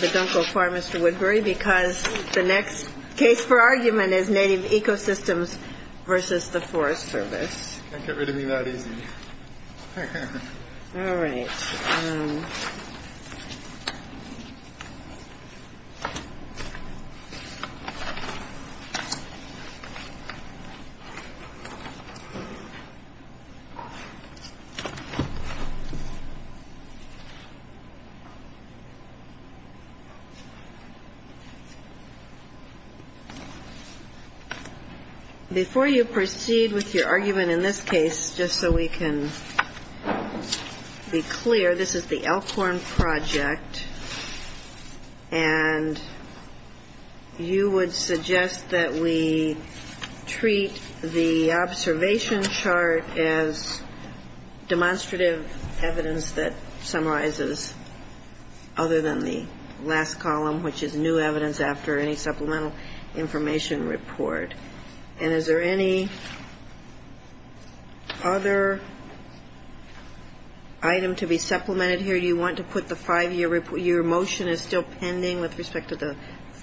But don't go far, Mr. Woodbury, because the next case for argument is Native Ecosystems v. the Forest Service. Get rid of me that easy. All right. Before you proceed with your argument in this case, just so we can be clear, we have a motion. This is the Elkhorn Project, and you would suggest that we treat the observation chart as demonstrative evidence that summarizes other than the last column, which is new evidence after any supplemental information report. And is there any other item to be supplemented here? Do you want to put the 5-year report? Your motion is still pending with respect to the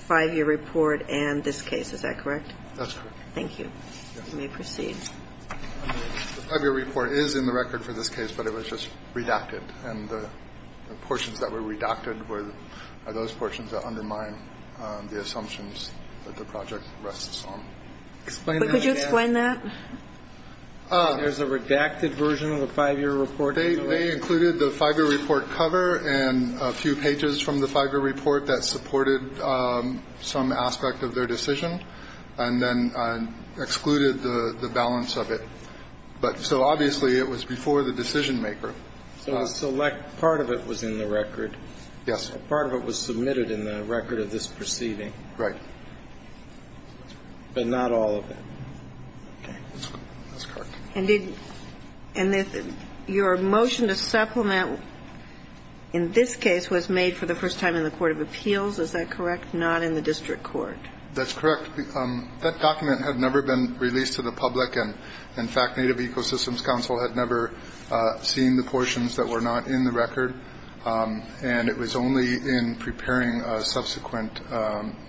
5-year report and this case. Is that correct? That's correct. Thank you. You may proceed. The 5-year report is in the record for this case, but it was just redacted. And the portions that were redacted are those portions that undermine the assumptions that the project rests on. Could you explain that? There's a redacted version of the 5-year report? They included the 5-year report cover and a few pages from the 5-year report that supported some aspect of their decision and then excluded the balance of it. But so obviously it was before the decision maker. So a select part of it was in the record. Yes. A part of it was submitted in the record of this proceeding. Right. But not all of it. Okay. That's correct. And did your motion to supplement in this case was made for the first time in the court of appeals, is that correct, not in the district court? That's correct. That document had never been released to the public. And in fact, Native Ecosystems Council had never seen the portions that were not in the record. And it was only in preparing a subsequent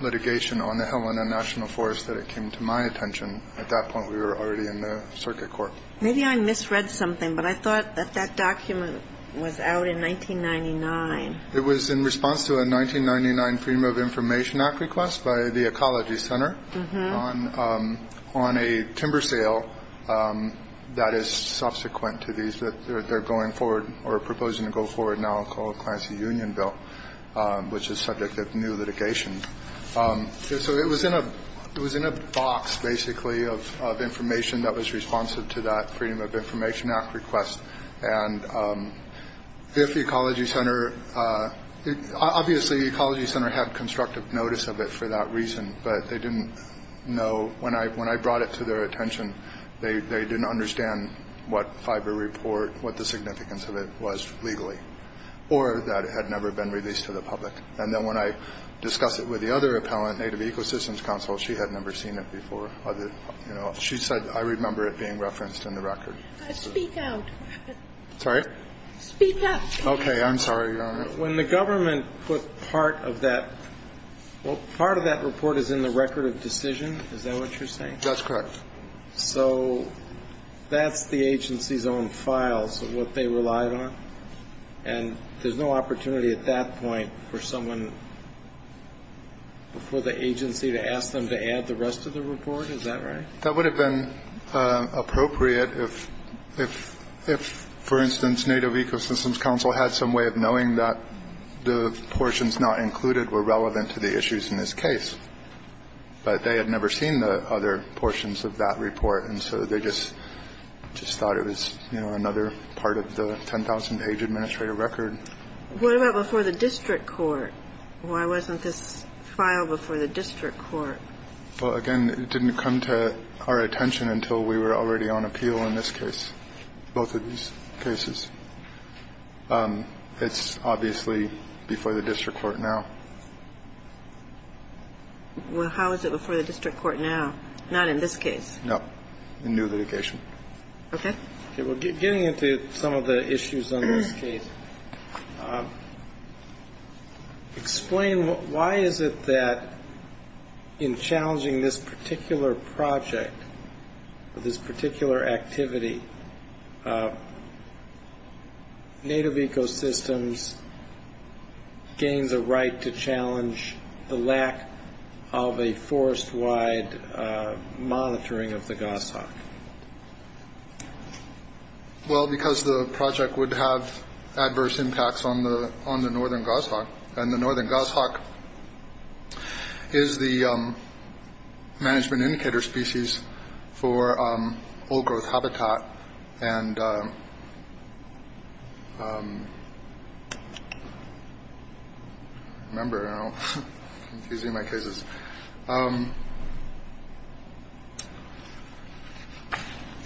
litigation on the Helena National Forest that it came to my attention. At that point, we were already in the circuit court. Maybe I misread something, but I thought that that document was out in 1999. It was in response to a 1999 Freedom of Information Act request by the Ecology Center on a timber sale that is subsequent to these that they're going forward or proposing to go forward now called Clancy Union Bill, which is subject of new litigation. So it was in a box, basically, of information that was responsive to that Freedom of Information Act request. And if the Ecology Center, obviously, the Ecology Center had constructive notice of it for that reason, but they didn't know when I when I brought it to their attention, they didn't understand what fiber report, what the significance of it was legally or that it had never been released to the public. And then when I discuss it with the other appellant, Native Ecosystems Council, she had never seen it before. She said, I remember it being referenced in the record. Speak out, sorry, speak up. OK, I'm sorry when the government put part of that part of that report is in the record of decision. Is that what you're saying? That's correct. So that's the agency's own files of what they relied on. And there's no opportunity at that point for someone before the agency to ask them to add the rest of the report. Is that right? That would have been appropriate if if if, for instance, Native Ecosystems Council had some way of knowing that the portions not included were relevant to the issues in this case. But they had never seen the other portions of that report. And so they just just thought it was another part of the 10,000 page administrative record for the district court. Why wasn't this file before the district court? Well, again, it didn't come to our attention until we were already on appeal in this case, both of these cases. It's obviously before the district court now. Well, how is it before the district court now, not in this case? No new litigation. OK, we're getting into some of the issues on this case. Explain why is it that in challenging this particular project, this particular activity, Native Ecosystems gains a right to challenge the lack of a forest wide monitoring of the goshawk? Well, because the project would have adverse impacts on the on the northern goshawk and the northern goshawk is the management indicator species for old growth habitat and. And. Remember, you know, using my cases. And.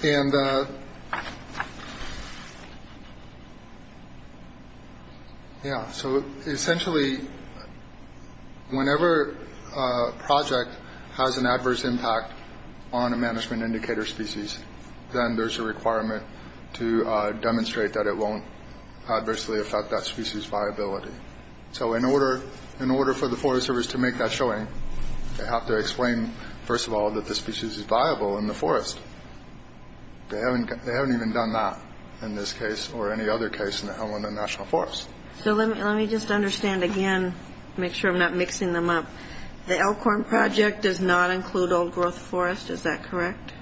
Yeah, so essentially. The. Whenever a project has an adverse impact on a management indicator species, then there's a requirement to demonstrate that it won't adversely affect that species viability. So in order in order for the forest service to make that showing, they have to explain, first of all, that the species is viable in the forest. They haven't they haven't even done that in this case or any other case in the Helena National Forest. So let me let me just understand again, make sure I'm not mixing them up. The Elkhorn project does not include old growth forest. Is that correct?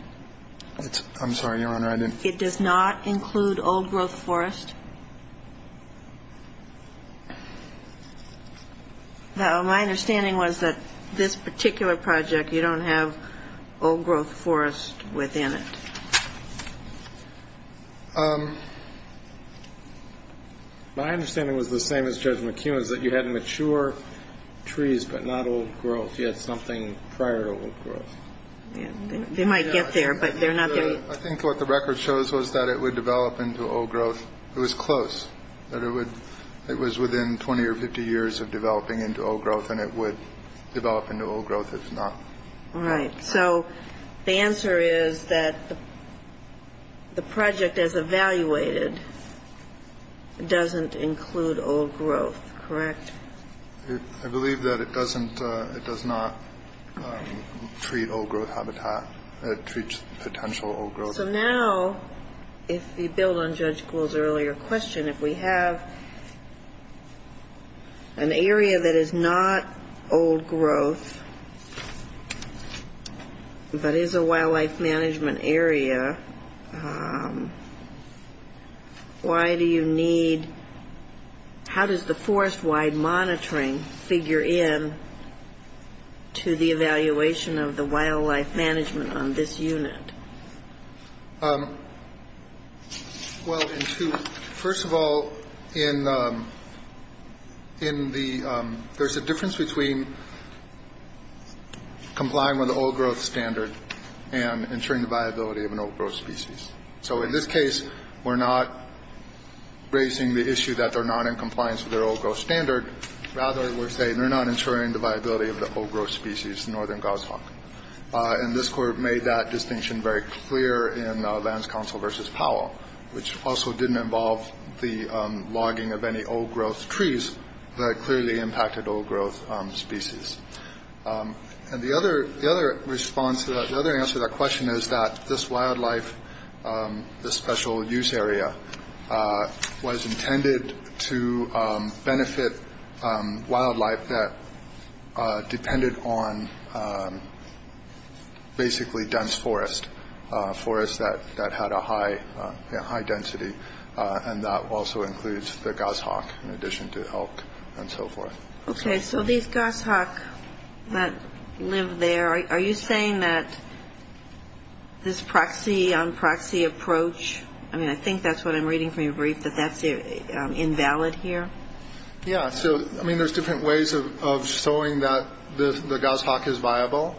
I'm sorry, Your Honor. It does not include old growth forest. My understanding was that this particular project, you don't have old growth forest within it. My understanding was the same as Judge McEwen's, that you had mature trees, but not old growth. You had something prior to old growth. They might get there, but they're not. I think what the record shows was that it would develop into old growth. It was close that it would it was within 20 or 50 years of developing into old growth and it would develop into old growth. All right. So the answer is that the project as evaluated doesn't include old growth, correct? I believe that it doesn't. It does not treat old growth habitat. It treats potential old growth. So now, if you build on Judge Gould's earlier question, if we have an area that is not old growth, but is a wildlife management area, why do you need how does the forest wide monitoring figure in to the evaluation of the wildlife management on this unit? Um, well, first of all, in in the there's a difference between complying with the old growth standard and ensuring the viability of an old growth species. So in this case, we're not raising the issue that they're not in compliance with their old growth standard. Rather, we're saying they're not ensuring the viability of the old growth species. The northern goshawk in this court made that distinction very clear in the lands council versus Powell, which also didn't involve the logging of any old growth trees that clearly impacted old growth species. And the other the other response to that, the other answer to that question is that this wildlife, the special use area was intended to benefit wildlife that depended on basically dense forest forests that that had a high, high density. And that also includes the goshawk in addition to elk and so forth. OK, so these goshawk that live there, are you saying that this proxy on proxy approach? I mean, I think that's what I'm reading from your brief, that that's invalid here. Yeah. So, I mean, there's different ways of showing that the goshawk is viable.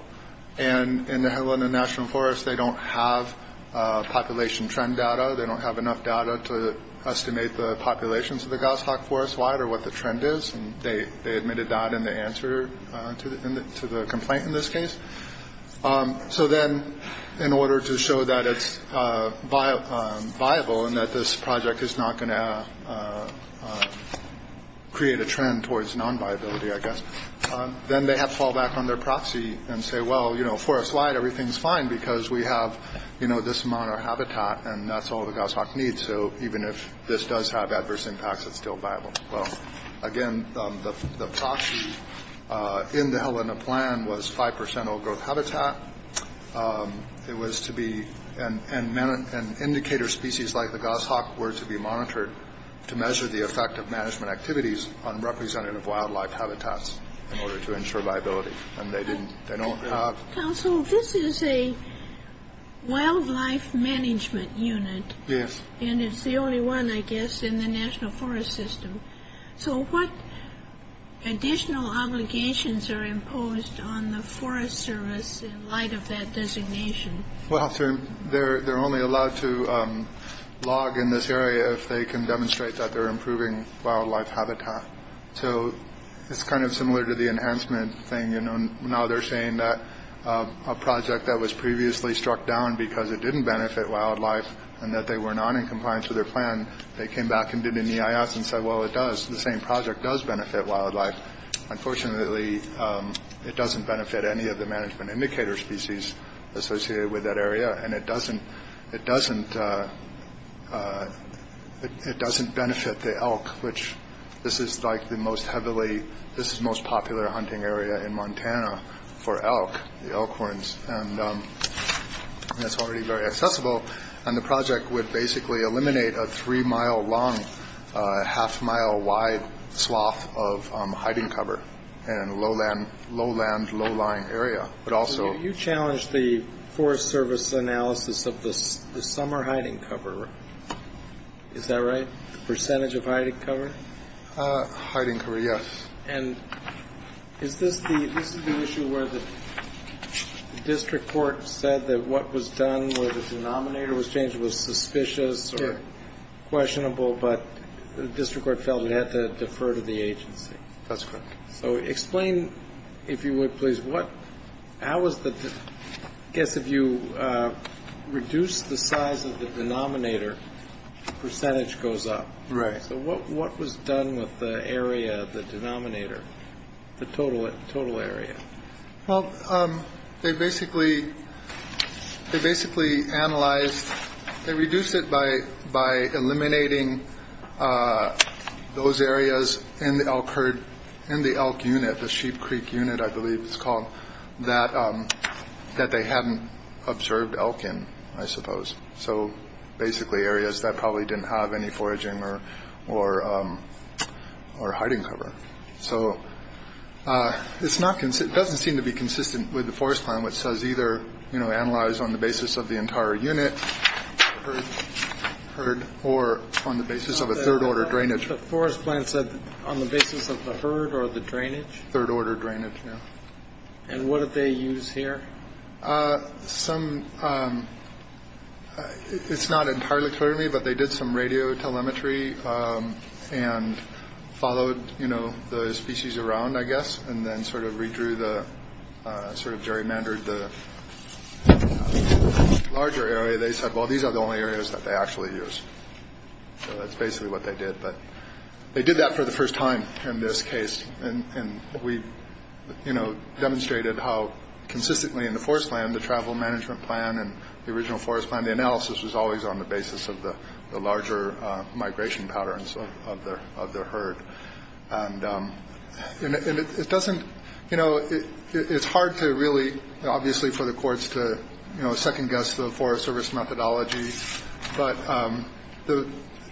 And in the Helena National Forest, they don't have population trend data. They don't have enough data to estimate the populations of the goshawk forest wide or what the trend is. And they they admitted that in the answer to the to the complaint in this case. So then in order to show that it's viable and that this project is not going to create a trend towards non-viability, I guess, then they have to fall back on their proxy and say, well, you know, for a slide, everything's fine because we have, you know, this amount of habitat and that's all the goshawk needs. So even if this does have adverse impacts, it's still viable. Well, again, the proxy in the Helena plan was 5 percent old growth habitat. It was to be an indicator species like the goshawk were to be monitored to measure the effect of management activities on representative wildlife habitats in order to ensure viability. And they didn't they don't have. Also, this is a wildlife management unit. Yes. And it's the only one, I guess, in the national forest system. So what additional obligations are imposed on the Forest Service in light of that designation? Well, they're they're only allowed to log in this area if they can demonstrate that they're improving wildlife habitat. So it's kind of similar to the enhancement thing. And now they're saying that a project that was previously struck down because it didn't benefit wildlife and that they were not in compliance with their plan. They came back and did an EIS and said, well, it does the same project does benefit wildlife. Unfortunately, it doesn't benefit any of the management indicator species associated with that area. And it doesn't it doesn't it doesn't benefit the elk, which this is like the most heavily. This is most popular hunting area in Montana for elk, the elk horns. And that's already very accessible. And the project would basically eliminate a three mile long, half mile wide swath of hiding cover and low land, low land, low lying area. But also you challenge the Forest Service analysis of the summer hiding cover. Is that right? The percentage of hiding cover? Hiding cover, yes. And is this the issue where the district court said that what was done with the denominator was changed was suspicious or questionable, but the district court felt it had to defer to the agency. That's correct. So explain, if you would, please, what I was the guess if you reduce the size of the denominator, the percentage goes up. Right. So what what was done with the area, the denominator, the total total area? Well, they basically they basically analyzed they reduced it by by eliminating those areas and occurred in the elk unit, the Sheep Creek unit, I believe it's called that, that they hadn't observed Elkin, I suppose. So basically areas that probably didn't have any foraging or or or hiding cover. So it's not it doesn't seem to be consistent with the forest plan, which says either, you know, analyze on the basis of the entire unit heard or on the basis of a third order drainage. The forest plan said on the basis of the herd or the drainage, third order drainage. And what did they use here? Some. It's not entirely clear to me, but they did some radio telemetry and followed, you know, the species around, I guess, and then sort of redrew the sort of gerrymandered the larger area. They said, well, these are the only areas that they actually use. That's basically what they did. But they did that for the first time in this case. And we, you know, demonstrated how consistently in the forest plan, the travel management plan and the original forest plan. The analysis was always on the basis of the larger migration patterns of their of their herd. And it doesn't you know, it's hard to really obviously for the courts to second guess the Forest Service methodology. But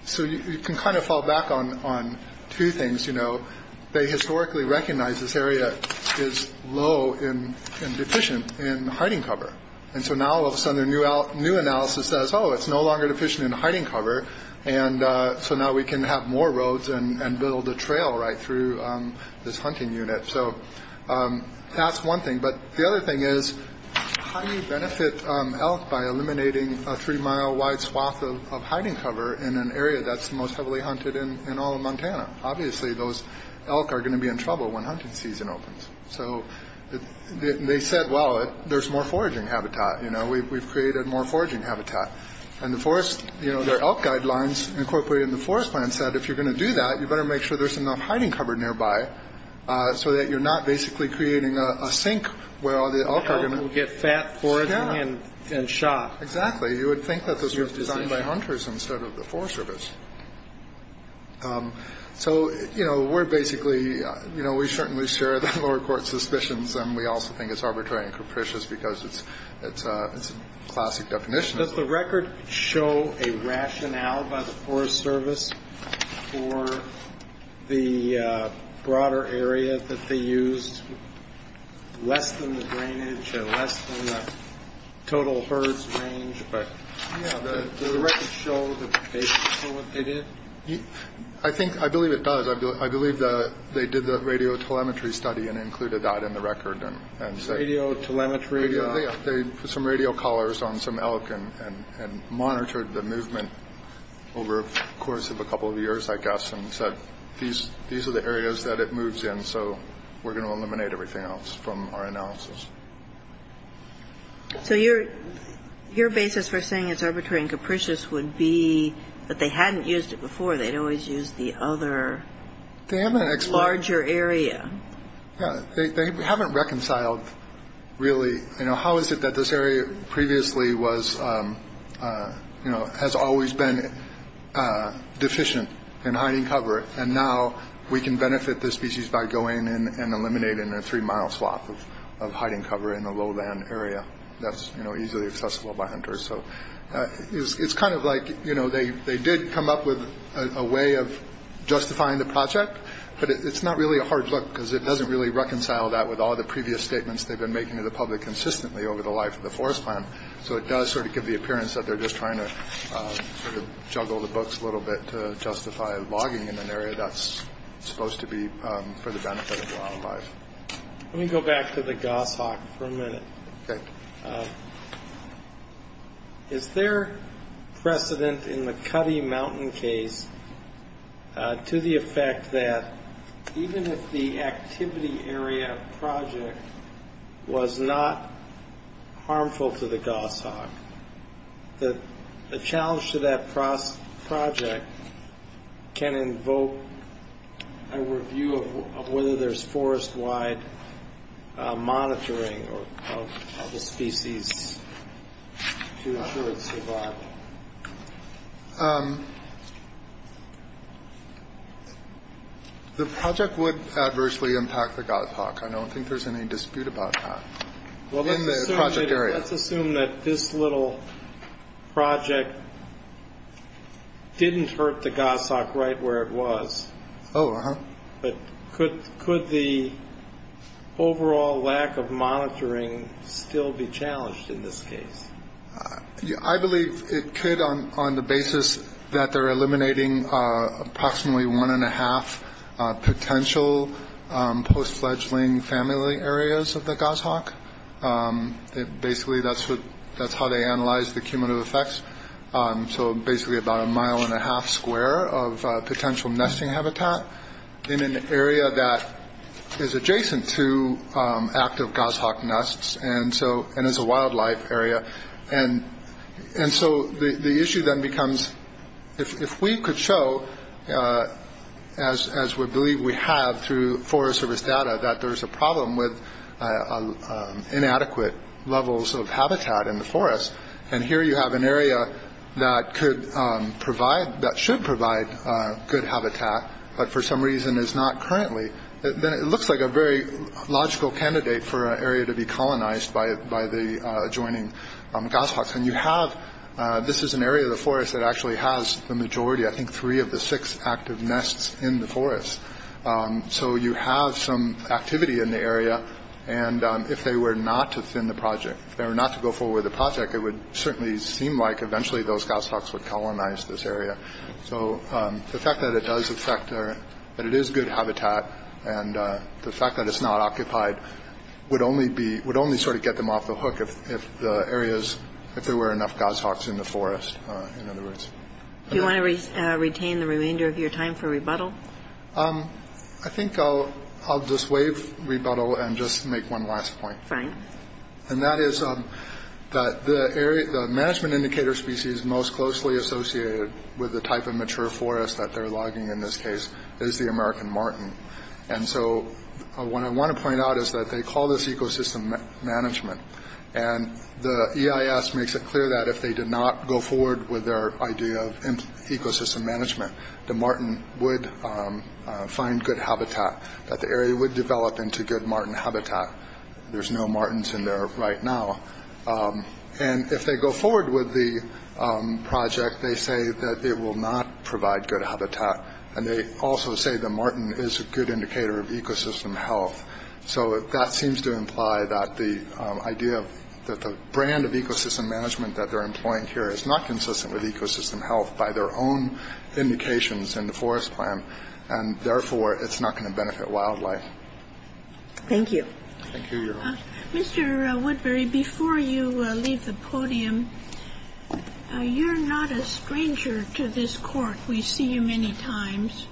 so you can kind of fall back on on two things. You know, they historically recognize this area is low in deficient in hiding cover. And so now all of a sudden their new new analysis says, oh, it's no longer deficient in hiding cover. And so now we can have more roads and build a trail right through this hunting unit. So that's one thing. But the other thing is how you benefit elk by eliminating a three mile wide swath of hiding cover in an area that's most heavily hunted in all of Montana. Obviously, those elk are going to be in trouble when hunting season opens. So they said, well, there's more foraging habitat. You know, we've created more foraging habitat and the forest. You know, there are guidelines incorporated in the forest plan said, if you're going to do that, you better make sure there's enough hiding cover nearby. So that you're not basically creating a sink where all the elk are going to get fat forage and shot. Exactly. You would think that this was designed by hunters instead of the Forest Service. So, you know, we're basically you know, we certainly share the lower court suspicions. And we also think it's arbitrary and capricious because it's it's a classic definition of the record. Show a rationale by the Forest Service for the broader area that they used less than the drainage and less than the total birds range. But the record show what they did. I think I believe it does. I believe that they did the radio telemetry study and included that in the record. And radio telemetry, they put some radio collars on some elk and monitored the movement over the course of a couple of years, I guess, and said, these these are the areas that it moves in. So we're going to eliminate everything else from our analysis. So your your basis for saying it's arbitrary and capricious would be that they hadn't used it before. They'd always used the other. They haven't explored your area. They haven't reconciled really. You know, how is it that this area previously was, you know, has always been deficient in hiding cover. And now we can benefit the species by going in and eliminating a three mile swath of hiding cover in the lowland area. That's easily accessible by hunters. So it's kind of like, you know, they they did come up with a way of justifying the project, but it's not really a hard look because it doesn't really reconcile that with all the previous statements they've been making to the public consistently over the life of the forest plan. So it does sort of give the appearance that they're just trying to sort of juggle the books a little bit to justify logging in an area that's supposed to be for the benefit of wildlife. Let me go back to the goshawk for a minute. Is there precedent in the Cuddy Mountain case to the effect that even if the activity area project was not harmful to the goshawk, that the challenge to that project can invoke a review of whether there's forest wide monitoring of the species to ensure its survival? The project would adversely impact the goshawk. I don't think there's any dispute about that. Well, let's assume that this little project didn't hurt the goshawk right where it was. Oh, but could could the overall lack of monitoring still be challenged in this case? I believe it could on the basis that they're eliminating approximately one and a half potential post fledgling family areas of the goshawk. Basically, that's what that's how they analyze the cumulative effects. So basically about a mile and a half square of potential nesting habitat in an area that is adjacent to active goshawk nests. And so and it's a wildlife area. And and so the issue then becomes if we could show as as we believe we have through forest service data, that there is a problem with inadequate levels of habitat in the forest. And here you have an area that could provide that should provide good habitat. But for some reason is not currently that it looks like a very logical candidate for an area to be colonized by by the adjoining goshawks. And you have this is an area of the forest that actually has the majority, I think, three of the six active nests in the forest. So you have some activity in the area. And if they were not to thin the project, they were not to go forward with the project. It would certainly seem like eventually those goshawks would colonize this area. So the fact that it does affect that it is good habitat and the fact that it's not occupied would only be would only sort of get them off the hook. If if the areas if there were enough goshawks in the forest, in other words, you want to retain the remainder of your time for rebuttal. I think I'll I'll just wave rebuttal and just make one last point. Frank, and that is that the area, the management indicator species most closely associated with the type of mature forest that they're logging in this case is the American Martin. And so what I want to point out is that they call this ecosystem management. And the EIS makes it clear that if they did not go forward with their idea of ecosystem management, the Martin would find good habitat that the area would develop into good Martin habitat. There's no Martins in there right now. And if they go forward with the project, they say that it will not provide good habitat. And they also say the Martin is a good indicator of ecosystem health. So that seems to imply that the idea that the brand of ecosystem management that they're employing here is not consistent with ecosystem health by their own indications in the forest plan. And therefore, it's not going to benefit wildlife. Thank you. Mr. Woodbury, before you leave the podium, you're not a stranger to this court. We see you many times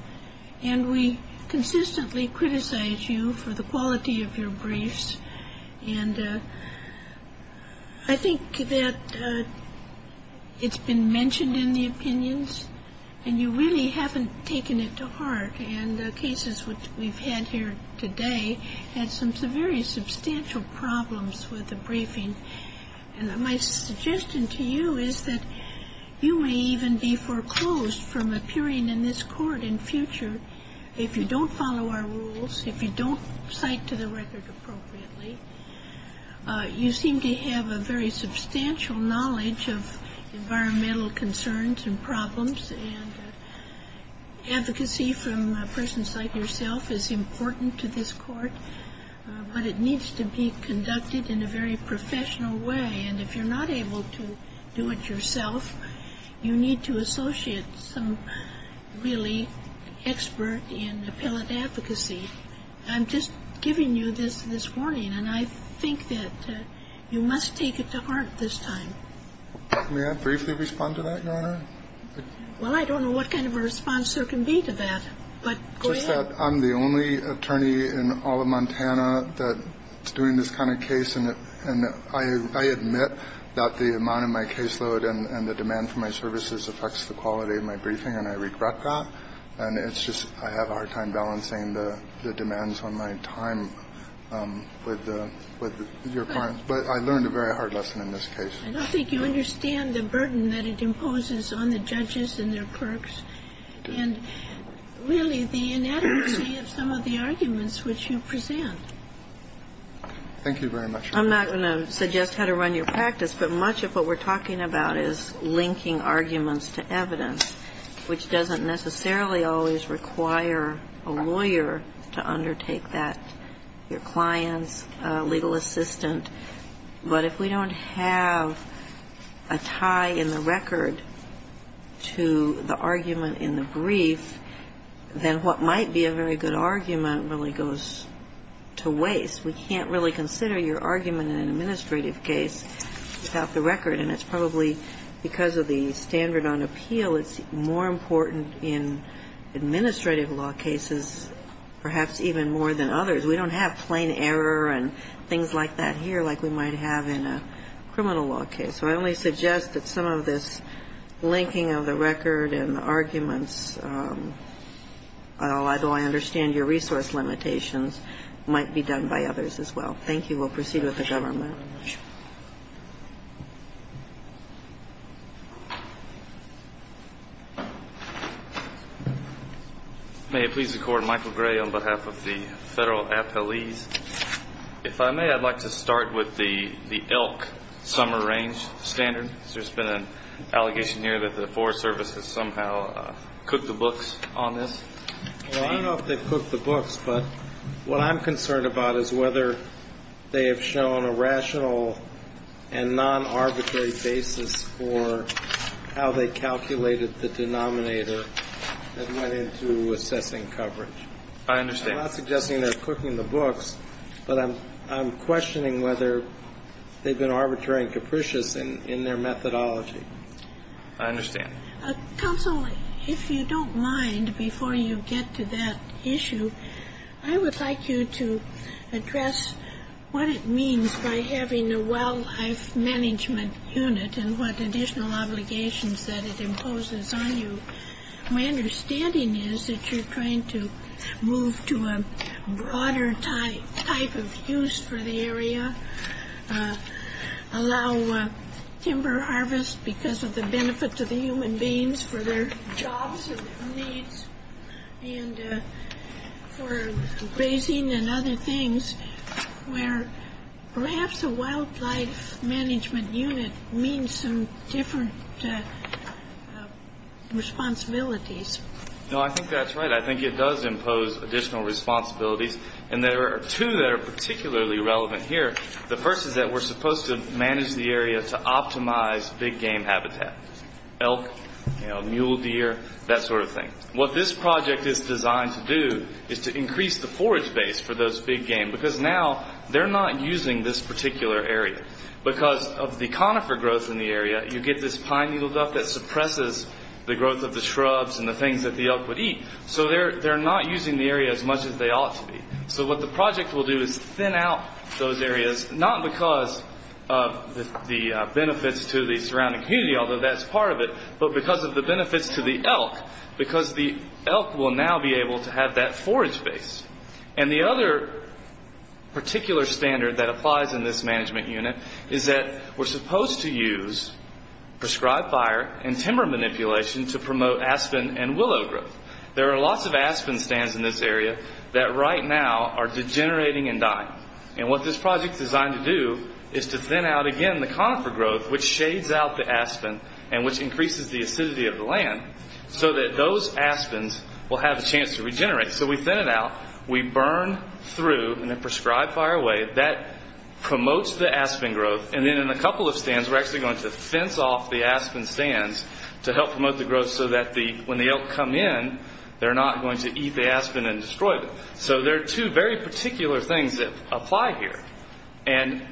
and we consistently criticize you for the quality of your briefs. And I think that it's been mentioned in the opinions and you really haven't taken it to heart. And the cases which we've had here today had some very substantial problems with the briefing. And my suggestion to you is that you may even be foreclosed from appearing in this court in future if you don't follow our rules, if you don't cite to the record appropriately. You seem to have a very substantial knowledge of environmental concerns and problems. And advocacy from persons like yourself is important to this court, but it needs to be conducted in a very professional way. And if you're not able to do it yourself, you need to associate some really expert in appellate advocacy. I'm just giving you this this morning and I think that you must take it to heart this time. May I briefly respond to that, Your Honor? Well, I don't know what kind of a response there can be to that. But go ahead. I'm the only attorney in all of Montana that's doing this kind of case. And I admit that the amount of my caseload and the demand for my services affects the quality of my briefing. And I regret that. And it's just I have a hard time balancing the demands on my time with your client. But I learned a very hard lesson in this case. I don't think you understand the burden that it imposes on the judges and their clerks and really the inadequacy of some of the arguments which you present. Thank you very much. I'm not going to suggest how to run your practice, but much of what we're talking about is linking arguments to evidence, which doesn't necessarily always require a lawyer to undertake that, your clients, legal assistant. But if we don't have a tie in the record to the argument in the brief, then what might be a very good argument really goes to waste. We can't really consider your argument in an administrative case without the record. And it's probably because of the standard on appeal, it's more important in administrative law cases perhaps even more than others. We don't have plain error and things like that here like we might have in a criminal law case. So I only suggest that some of this linking of the record and the arguments, although I understand your resource limitations, might be done by others as well. Thank you. We'll proceed with the government. May it please the Court. Michael Gray on behalf of the federal appellees. If I may, I'd like to start with the elk summer range standard. There's been an allegation here that the Forest Service has somehow cooked the books on this. Well, I don't know if they've cooked the books, but what I'm concerned about is whether they have shown a rational and non-arbitrary basis for how they calculated the denominator that went into assessing coverage. I understand. I'm not suggesting they're cooking the books, but I'm questioning whether they've been arbitrary and capricious in their methodology. I understand. Counsel, if you don't mind, before you get to that issue, I would like you to address what it means by having a wildlife management unit and what additional obligations that it imposes on you. My understanding is that you're trying to move to a broader type of use for the area, allow timber harvest because of the benefit to the human beings for their jobs or their needs and for grazing and other things, where perhaps a wildlife management unit means some different responsibilities. No, I think that's right. I think it does impose additional responsibilities, and there are two that are particularly relevant here. The first is that we're supposed to manage the area to optimize big game habitat, elk, mule deer, that sort of thing. What this project is designed to do is to increase the forage base for those big game, because now they're not using this particular area. Because of the conifer growth in the area, you get this pine needle duck that suppresses the growth of the shrubs and the things that the elk would eat, so they're not using the area as much as they ought to be. So what the project will do is thin out those areas, not because of the benefits to the surrounding community, although that's part of it, but because of the benefits to the elk, because the elk will now be able to have that forage base. The other particular standard that applies in this management unit is that we're supposed to use prescribed fire and timber manipulation to promote aspen and willow growth. There are lots of aspen stands in this area that right now are degenerating and dying. What this project is designed to do is to thin out, again, the conifer growth, which shades out the aspen and which increases the acidity of the land, so that those aspens will have a chance to regenerate. So we thin it out, we burn through in a prescribed fire way, that promotes the aspen growth, and then in a couple of stands, we're actually going to fence off the aspen stands to help promote the growth, so that when the elk come in, they're not going to eat the aspen and destroy them. So there are two very particular things that apply here, and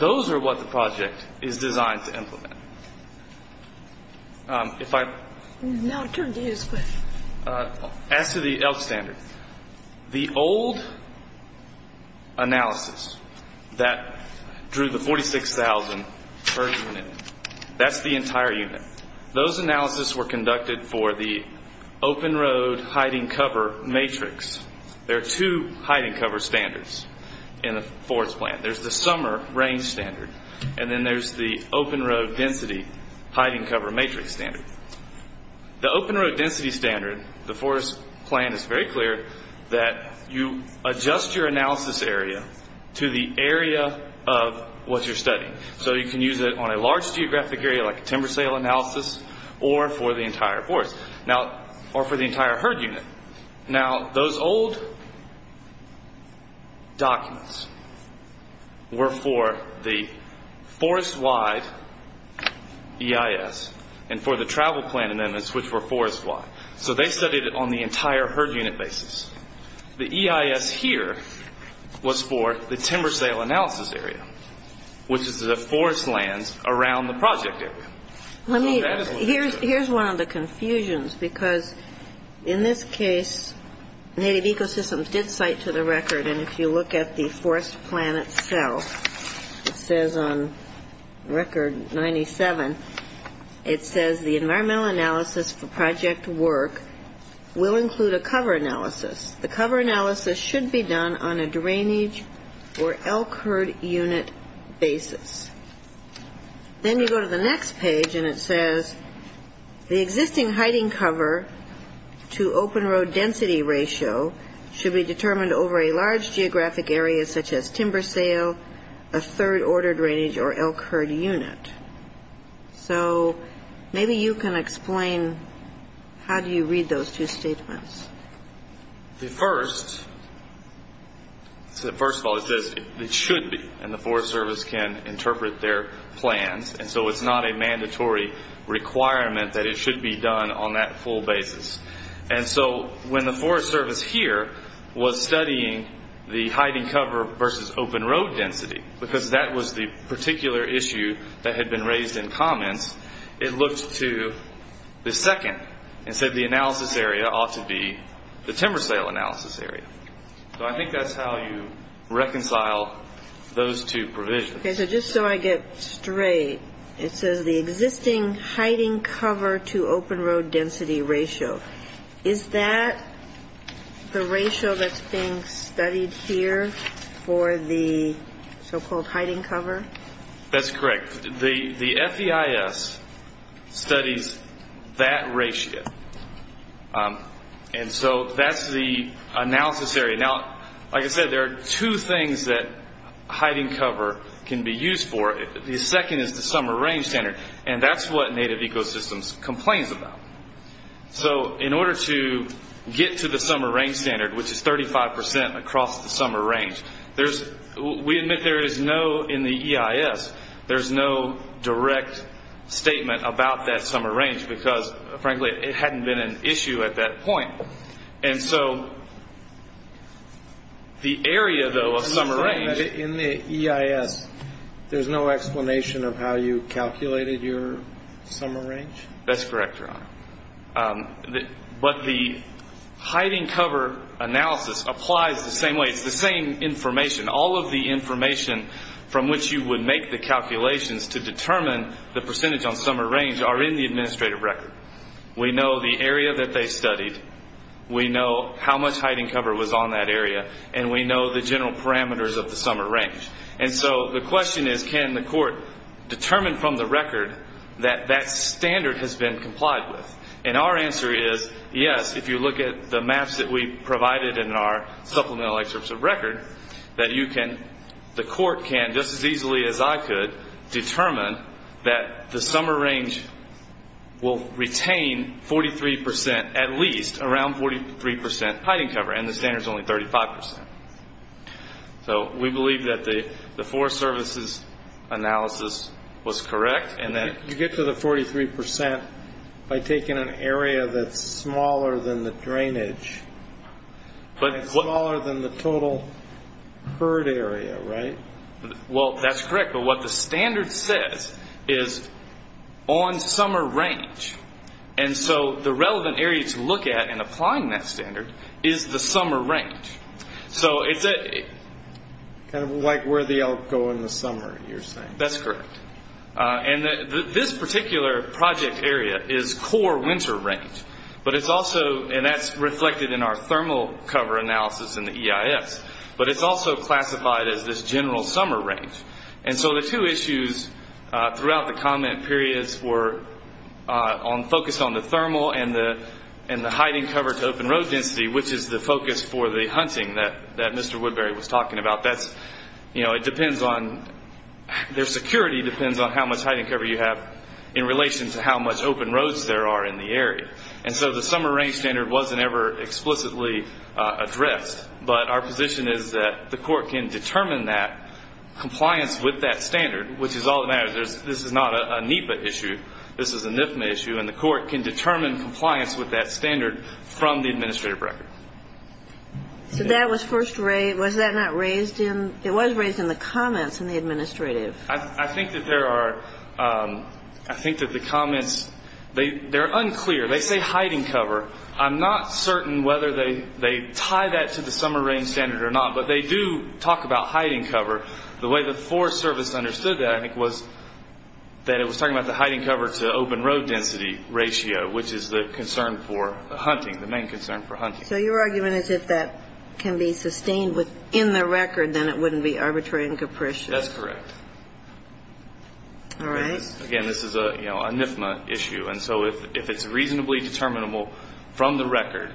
those are what the project is designed to implement. As to the elk standard, the old analysis that drew the 46,000 per unit, that's the entire unit. Those analysis were conducted for the open road hiding cover matrix. There are two hiding cover standards in the forest plan. There's the summer range standard, and then there's the open road density hiding cover matrix standard. The open road density standard, the forest plan is very clear that you adjust your analysis area to the area of what you're studying. So you can use it on a large geographic area, like timber sale analysis, or for the entire forest, or for the entire herd unit. Now, those old documents were for the forest wide EIS, and for the travel plan amendments, which were forest wide. So they studied it on the entire herd unit basis. The EIS here was for the timber sale analysis area, which is the forest lands around the project area. Let me, here's one of the confusions, because in this case, Native Ecosystems did cite to the record, and if you look at the forest plan itself, it says on record 97, it says the environmental analysis for project work will include a cover analysis. The cover analysis should be done on a drainage or elk herd unit basis. Then you go to the next page, and it says, the existing hiding cover to open road density ratio should be determined over a large geographic area, such as timber sale, a third order drainage, or elk herd unit. So maybe you can explain how do you read those two statements. The first, first of all, it says it should be, and the Forest Service can interpret their plans, and so it's not a mandatory requirement that it should be done on that full basis. And so when the Forest Service here was studying the hiding cover versus open road density, because that was the particular issue that had been raised in comments, it looked to the second and said the analysis area ought to be the timber sale analysis area. So I think that's how you reconcile those two provisions. Okay, so just so I get straight, it says the existing hiding cover to open road density ratio, is that the ratio that's being studied here for the so-called hiding cover? That's correct. The FEIS studies that ratio, and so that's the analysis area. Now, like I said, there are two things that hiding cover can be used for. The second is the summer range standard, and that's what Native Ecosystems complains about. So in order to get to the summer range standard, which is 35% across the summer range, we admit there is no, in the EIS, there's no direct statement about that summer range, because frankly, it hadn't been an issue at that point. And so the area, though, of summer range... In the EIS, there's no explanation of how you calculated your summer range? That's correct, Your Honor. But the hiding cover analysis applies the same way. It's the same information. All of the information from which you would make the calculations to determine the percentage on summer range are in the administrative record. We know the area that they studied. We know how much hiding cover was on that area. And we know the general parameters of the summer range. And so the question is, can the court determine from the record that that standard has been complied with? And our answer is, yes, if you look at the maps that we provided in our supplemental excerpts of record, that you can, the court can, just as easily as I could, determine that the summer range will retain 43%, at least, around 43% hiding cover, and the standard's only 35%. So we believe that the Forest Service's analysis was correct, and that... You get to the 43% by taking an area that's smaller than the drainage, and smaller than the total herd area, right? Well, that's correct. But what the standard says is on summer range. And so the relevant area to look at in applying that standard is the summer range. So it's a... Kind of like where the elk go in the summer, you're saying. That's correct. And this particular project area is core winter range. But it's also... And that's reflected in our thermal cover analysis in the EIS. But it's also classified as this general summer range. And so the two issues throughout the comment periods were focused on the thermal and the hiding cover to open road density, which is the focus for the hunting that Mr. Woodbury was talking about. That's, you know, it depends on... Their security depends on how much hiding cover you have in relation to how much open roads there are in the area. And so the summer range standard wasn't ever explicitly addressed. But our position is that the court can determine that compliance with that standard, which is all that matters. This is not a NEPA issue. This is a NIFMA issue. And the court can determine compliance with that standard from the administrative record. So that was first raised... Was that not raised in... It was raised in the comments in the administrative. I think that there are... I think that the comments... They're unclear. They say hiding cover. I'm not certain whether they tie that to the summer range standard or not. But they do talk about hiding cover. The way the Forest Service understood that, I think, was that it was talking about the hiding cover to open road density ratio, which is the concern for the hunting, the main concern for hunting. So your argument is if that can be sustained within the record, then it wouldn't be arbitrary and capricious. That's correct. All right. Again, this is a NIFMA issue. And so if it's reasonably determinable from the record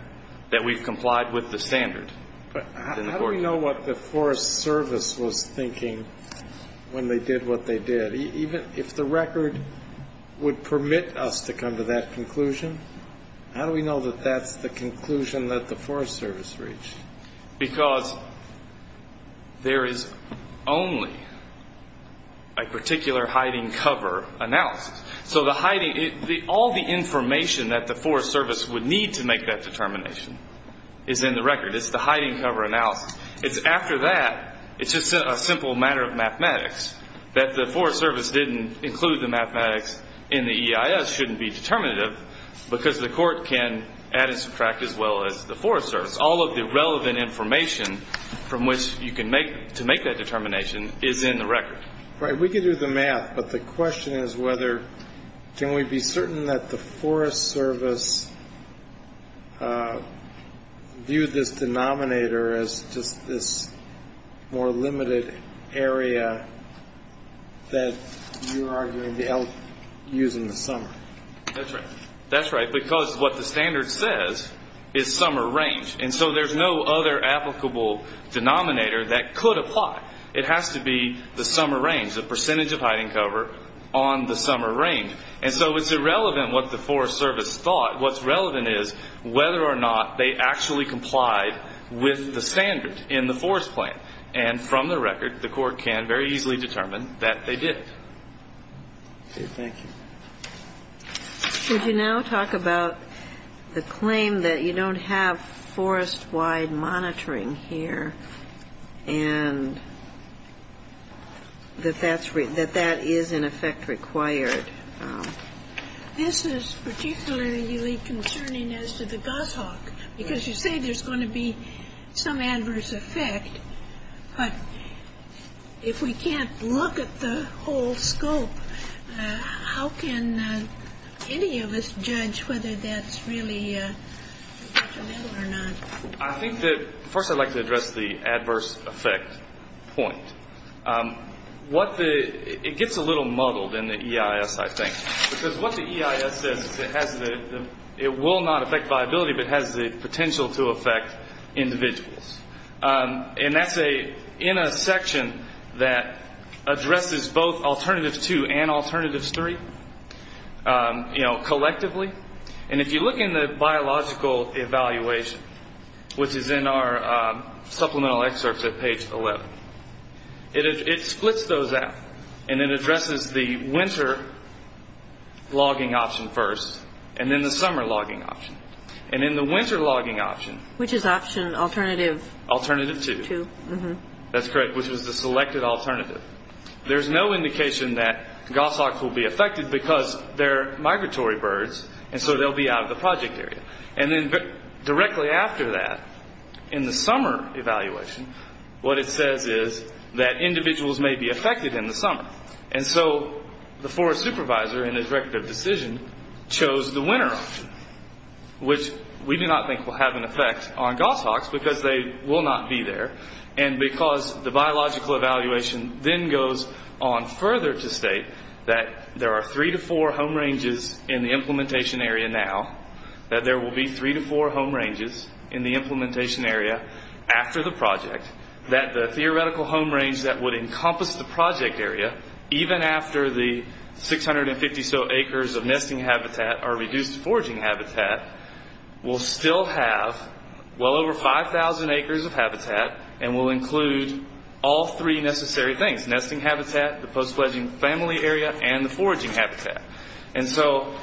that we've complied with the standard... But how do we know what the Forest Service was thinking when they did what they did? Even if the record would permit us to come to that conclusion, how do we know that that's the conclusion that the Forest Service reached? Because there is only a particular hiding cover announced. So the hiding... All the information that the Forest Service would need to make that determination is in the record. It's the hiding cover announced. It's after that. It's just a simple matter of mathematics. That the Forest Service didn't include the mathematics in the EIS shouldn't be determinative because the court can add and subtract as well as the Forest Service. All of the relevant information from which you can make... To make that determination is in the record. Right. We can do the math. But the question is whether... Can we be certain that the Forest Service viewed this denominator as just this more limited area that you are going to be using in the summer? That's right. That's right because what the standard says is summer range. And so there's no other applicable denominator that could apply. It has to be the summer range, the percentage of hiding cover on the summer range. And so it's irrelevant what the Forest Service thought. What's relevant is whether or not they actually complied with the standard in the forest plan. And from the record, the court can very easily determine that they did. Okay, thank you. Could you now talk about the claim that you don't have forest-wide monitoring here and that that is in effect required? This is particularly concerning as to the Gus Hawk because you say there's going to be some adverse effect. But if we can't look at the whole scope, how can any of us judge whether that's really an issue or not? I think that first I'd like to address the adverse effect point. It gets a little muddled in the EIS, I think, because what the EIS says is it will not affect viability but has the potential to affect individuals. And that's in a section that addresses both Alternatives 2 and Alternatives 3 collectively. And if you look in the biological evaluation, which is in our supplemental excerpts at page 11, it splits those out and then addresses the winter logging option first and then the summer logging option. And in the winter logging option... Which is option Alternative 2. That's correct, which was the selected alternative. There's no indication that Gus Hawks will be affected because they're migratory birds and so they'll be out of the project area. And then directly after that, in the summer evaluation, what it says is that individuals may be affected in the summer. And so the forest supervisor, in his record of decision, chose the winter option, which we do not think will have an effect on Gus Hawks because they will not be there. And because the biological evaluation then goes on further to state that there are three to four home ranges in the implementation area now, that there will be three to four home ranges in the implementation area after the project, that the theoretical home range that would encompass the project area, even after the 650-so acres of nesting habitat are reduced to foraging habitat, will still have well over 5,000 acres of habitat and will include all three necessary things, nesting habitat, the post-fledging family area, and the foraging habitat. And so...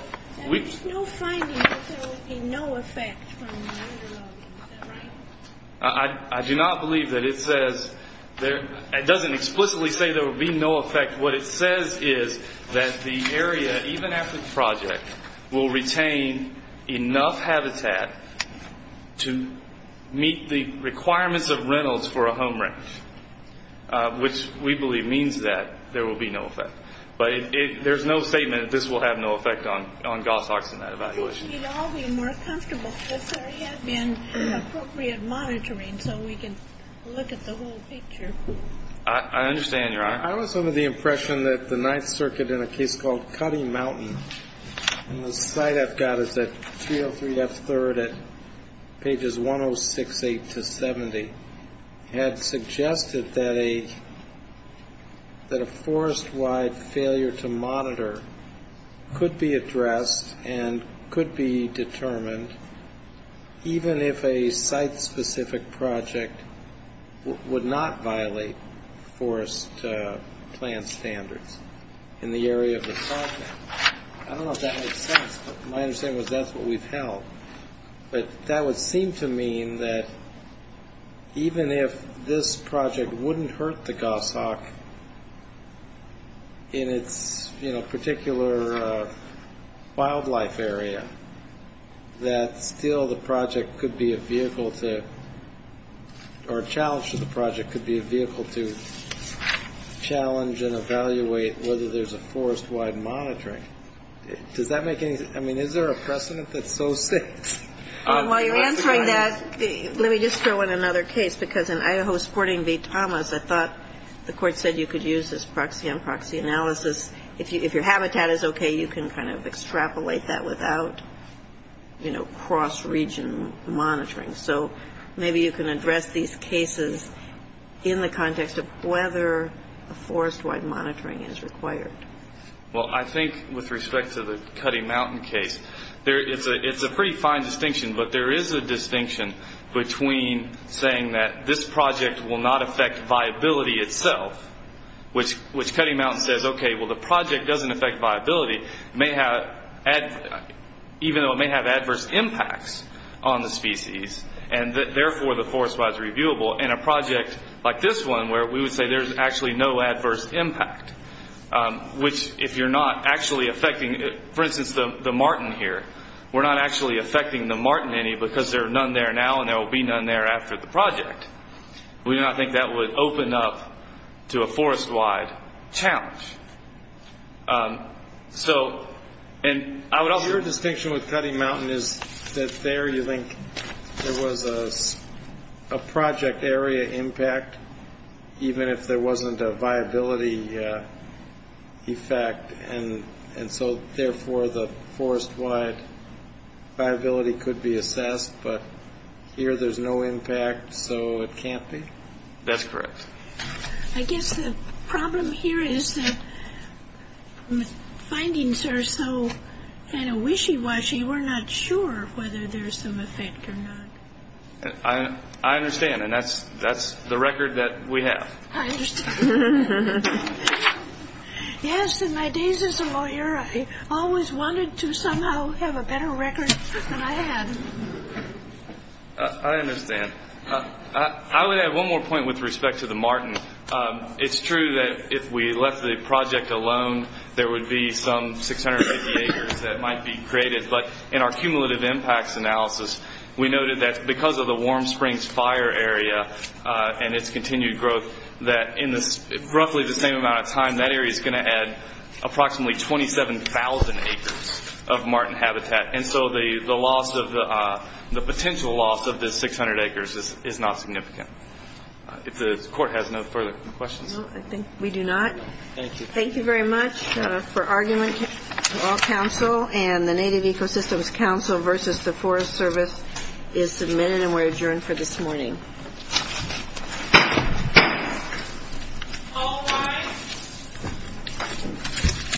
There's no finding that there will be no effect from the winter logging, is that right? I do not believe that it says... It doesn't explicitly say there will be no effect. What it says is that the area, even after the project, will retain enough habitat to meet the requirements of rentals for a home range, which we believe means that there will be no effect. But there's no statement that this will have no effect on Gus Hawks in that evaluation. We'd all be more comfortable if there had been appropriate monitoring so we could look at the whole picture. I understand, Your Honor. I was under the impression that the Ninth Circuit, in a case called Cutting Mountain, and the slide I've got is at 303 F. 3rd at pages 106, 8 to 70, had suggested that a forest-wide failure to monitor could be addressed and could be determined even if a site-specific project would not violate forest plan standards in the area of the project. I don't know if that makes sense, but my understanding is that's what we've held. But that would seem to mean that even if this project wouldn't hurt the Gus Hawk in its particular wildlife area, that still the project could be a vehicle to or a challenge to the project could be a vehicle to challenge and evaluate whether there's a forest-wide monitoring. Does that make any sense? I mean, is there a precedent that so sits? While you're answering that, let me just throw in another case, because in Idaho's Porting v. Thomas, I thought the court said you could use this proxy-unproxy analysis. If your habitat is okay, you can kind of extrapolate that without, you know, cross-region monitoring. So maybe you can address these cases in the context of whether a forest-wide monitoring is required. Well, I think with respect to the Cutting Mountain case, it's a pretty fine distinction, but there is a distinction between saying that this project will not affect viability itself, which Cutting Mountain says, okay, well, the project doesn't affect viability, even though it may have adverse impacts on the species, and therefore the forest-wide is reviewable, and a project like this one where we would say there's actually no adverse impact, which if you're not actually affecting, for instance, the Martin here, we're not actually affecting the Martin any because there are none there now, and there will be none there after the project. We do not think that would open up to a forest-wide challenge. Your distinction with Cutting Mountain is that there you think there was a project area impact, even if there wasn't a viability effect, and so therefore the forest-wide viability could be assessed, but here there's no impact, so it can't be? That's correct. I guess the problem here is that findings are so kind of wishy-washy, we're not sure whether there's some effect or not. I understand, and that's the record that we have. I understand. Yes, in my days as a lawyer, I always wanted to somehow have a better record than I had. I understand. I would add one more point with respect to the Martin. It's true that if we left the project alone, there would be some 680 acres that might be created, but in our cumulative impacts analysis, we noted that because of the Warm Springs fire area and its continued growth that in roughly the same amount of time, that area is going to add approximately 27,000 acres of Martin habitat, and so the potential loss of the 600 acres is not significant. If the Court has no further questions. No, I think we do not. Thank you. Thank you very much. For argument, all counsel and the Native Ecosystems Council versus the Forest Service is submitted and we're adjourned for this morning. All rise.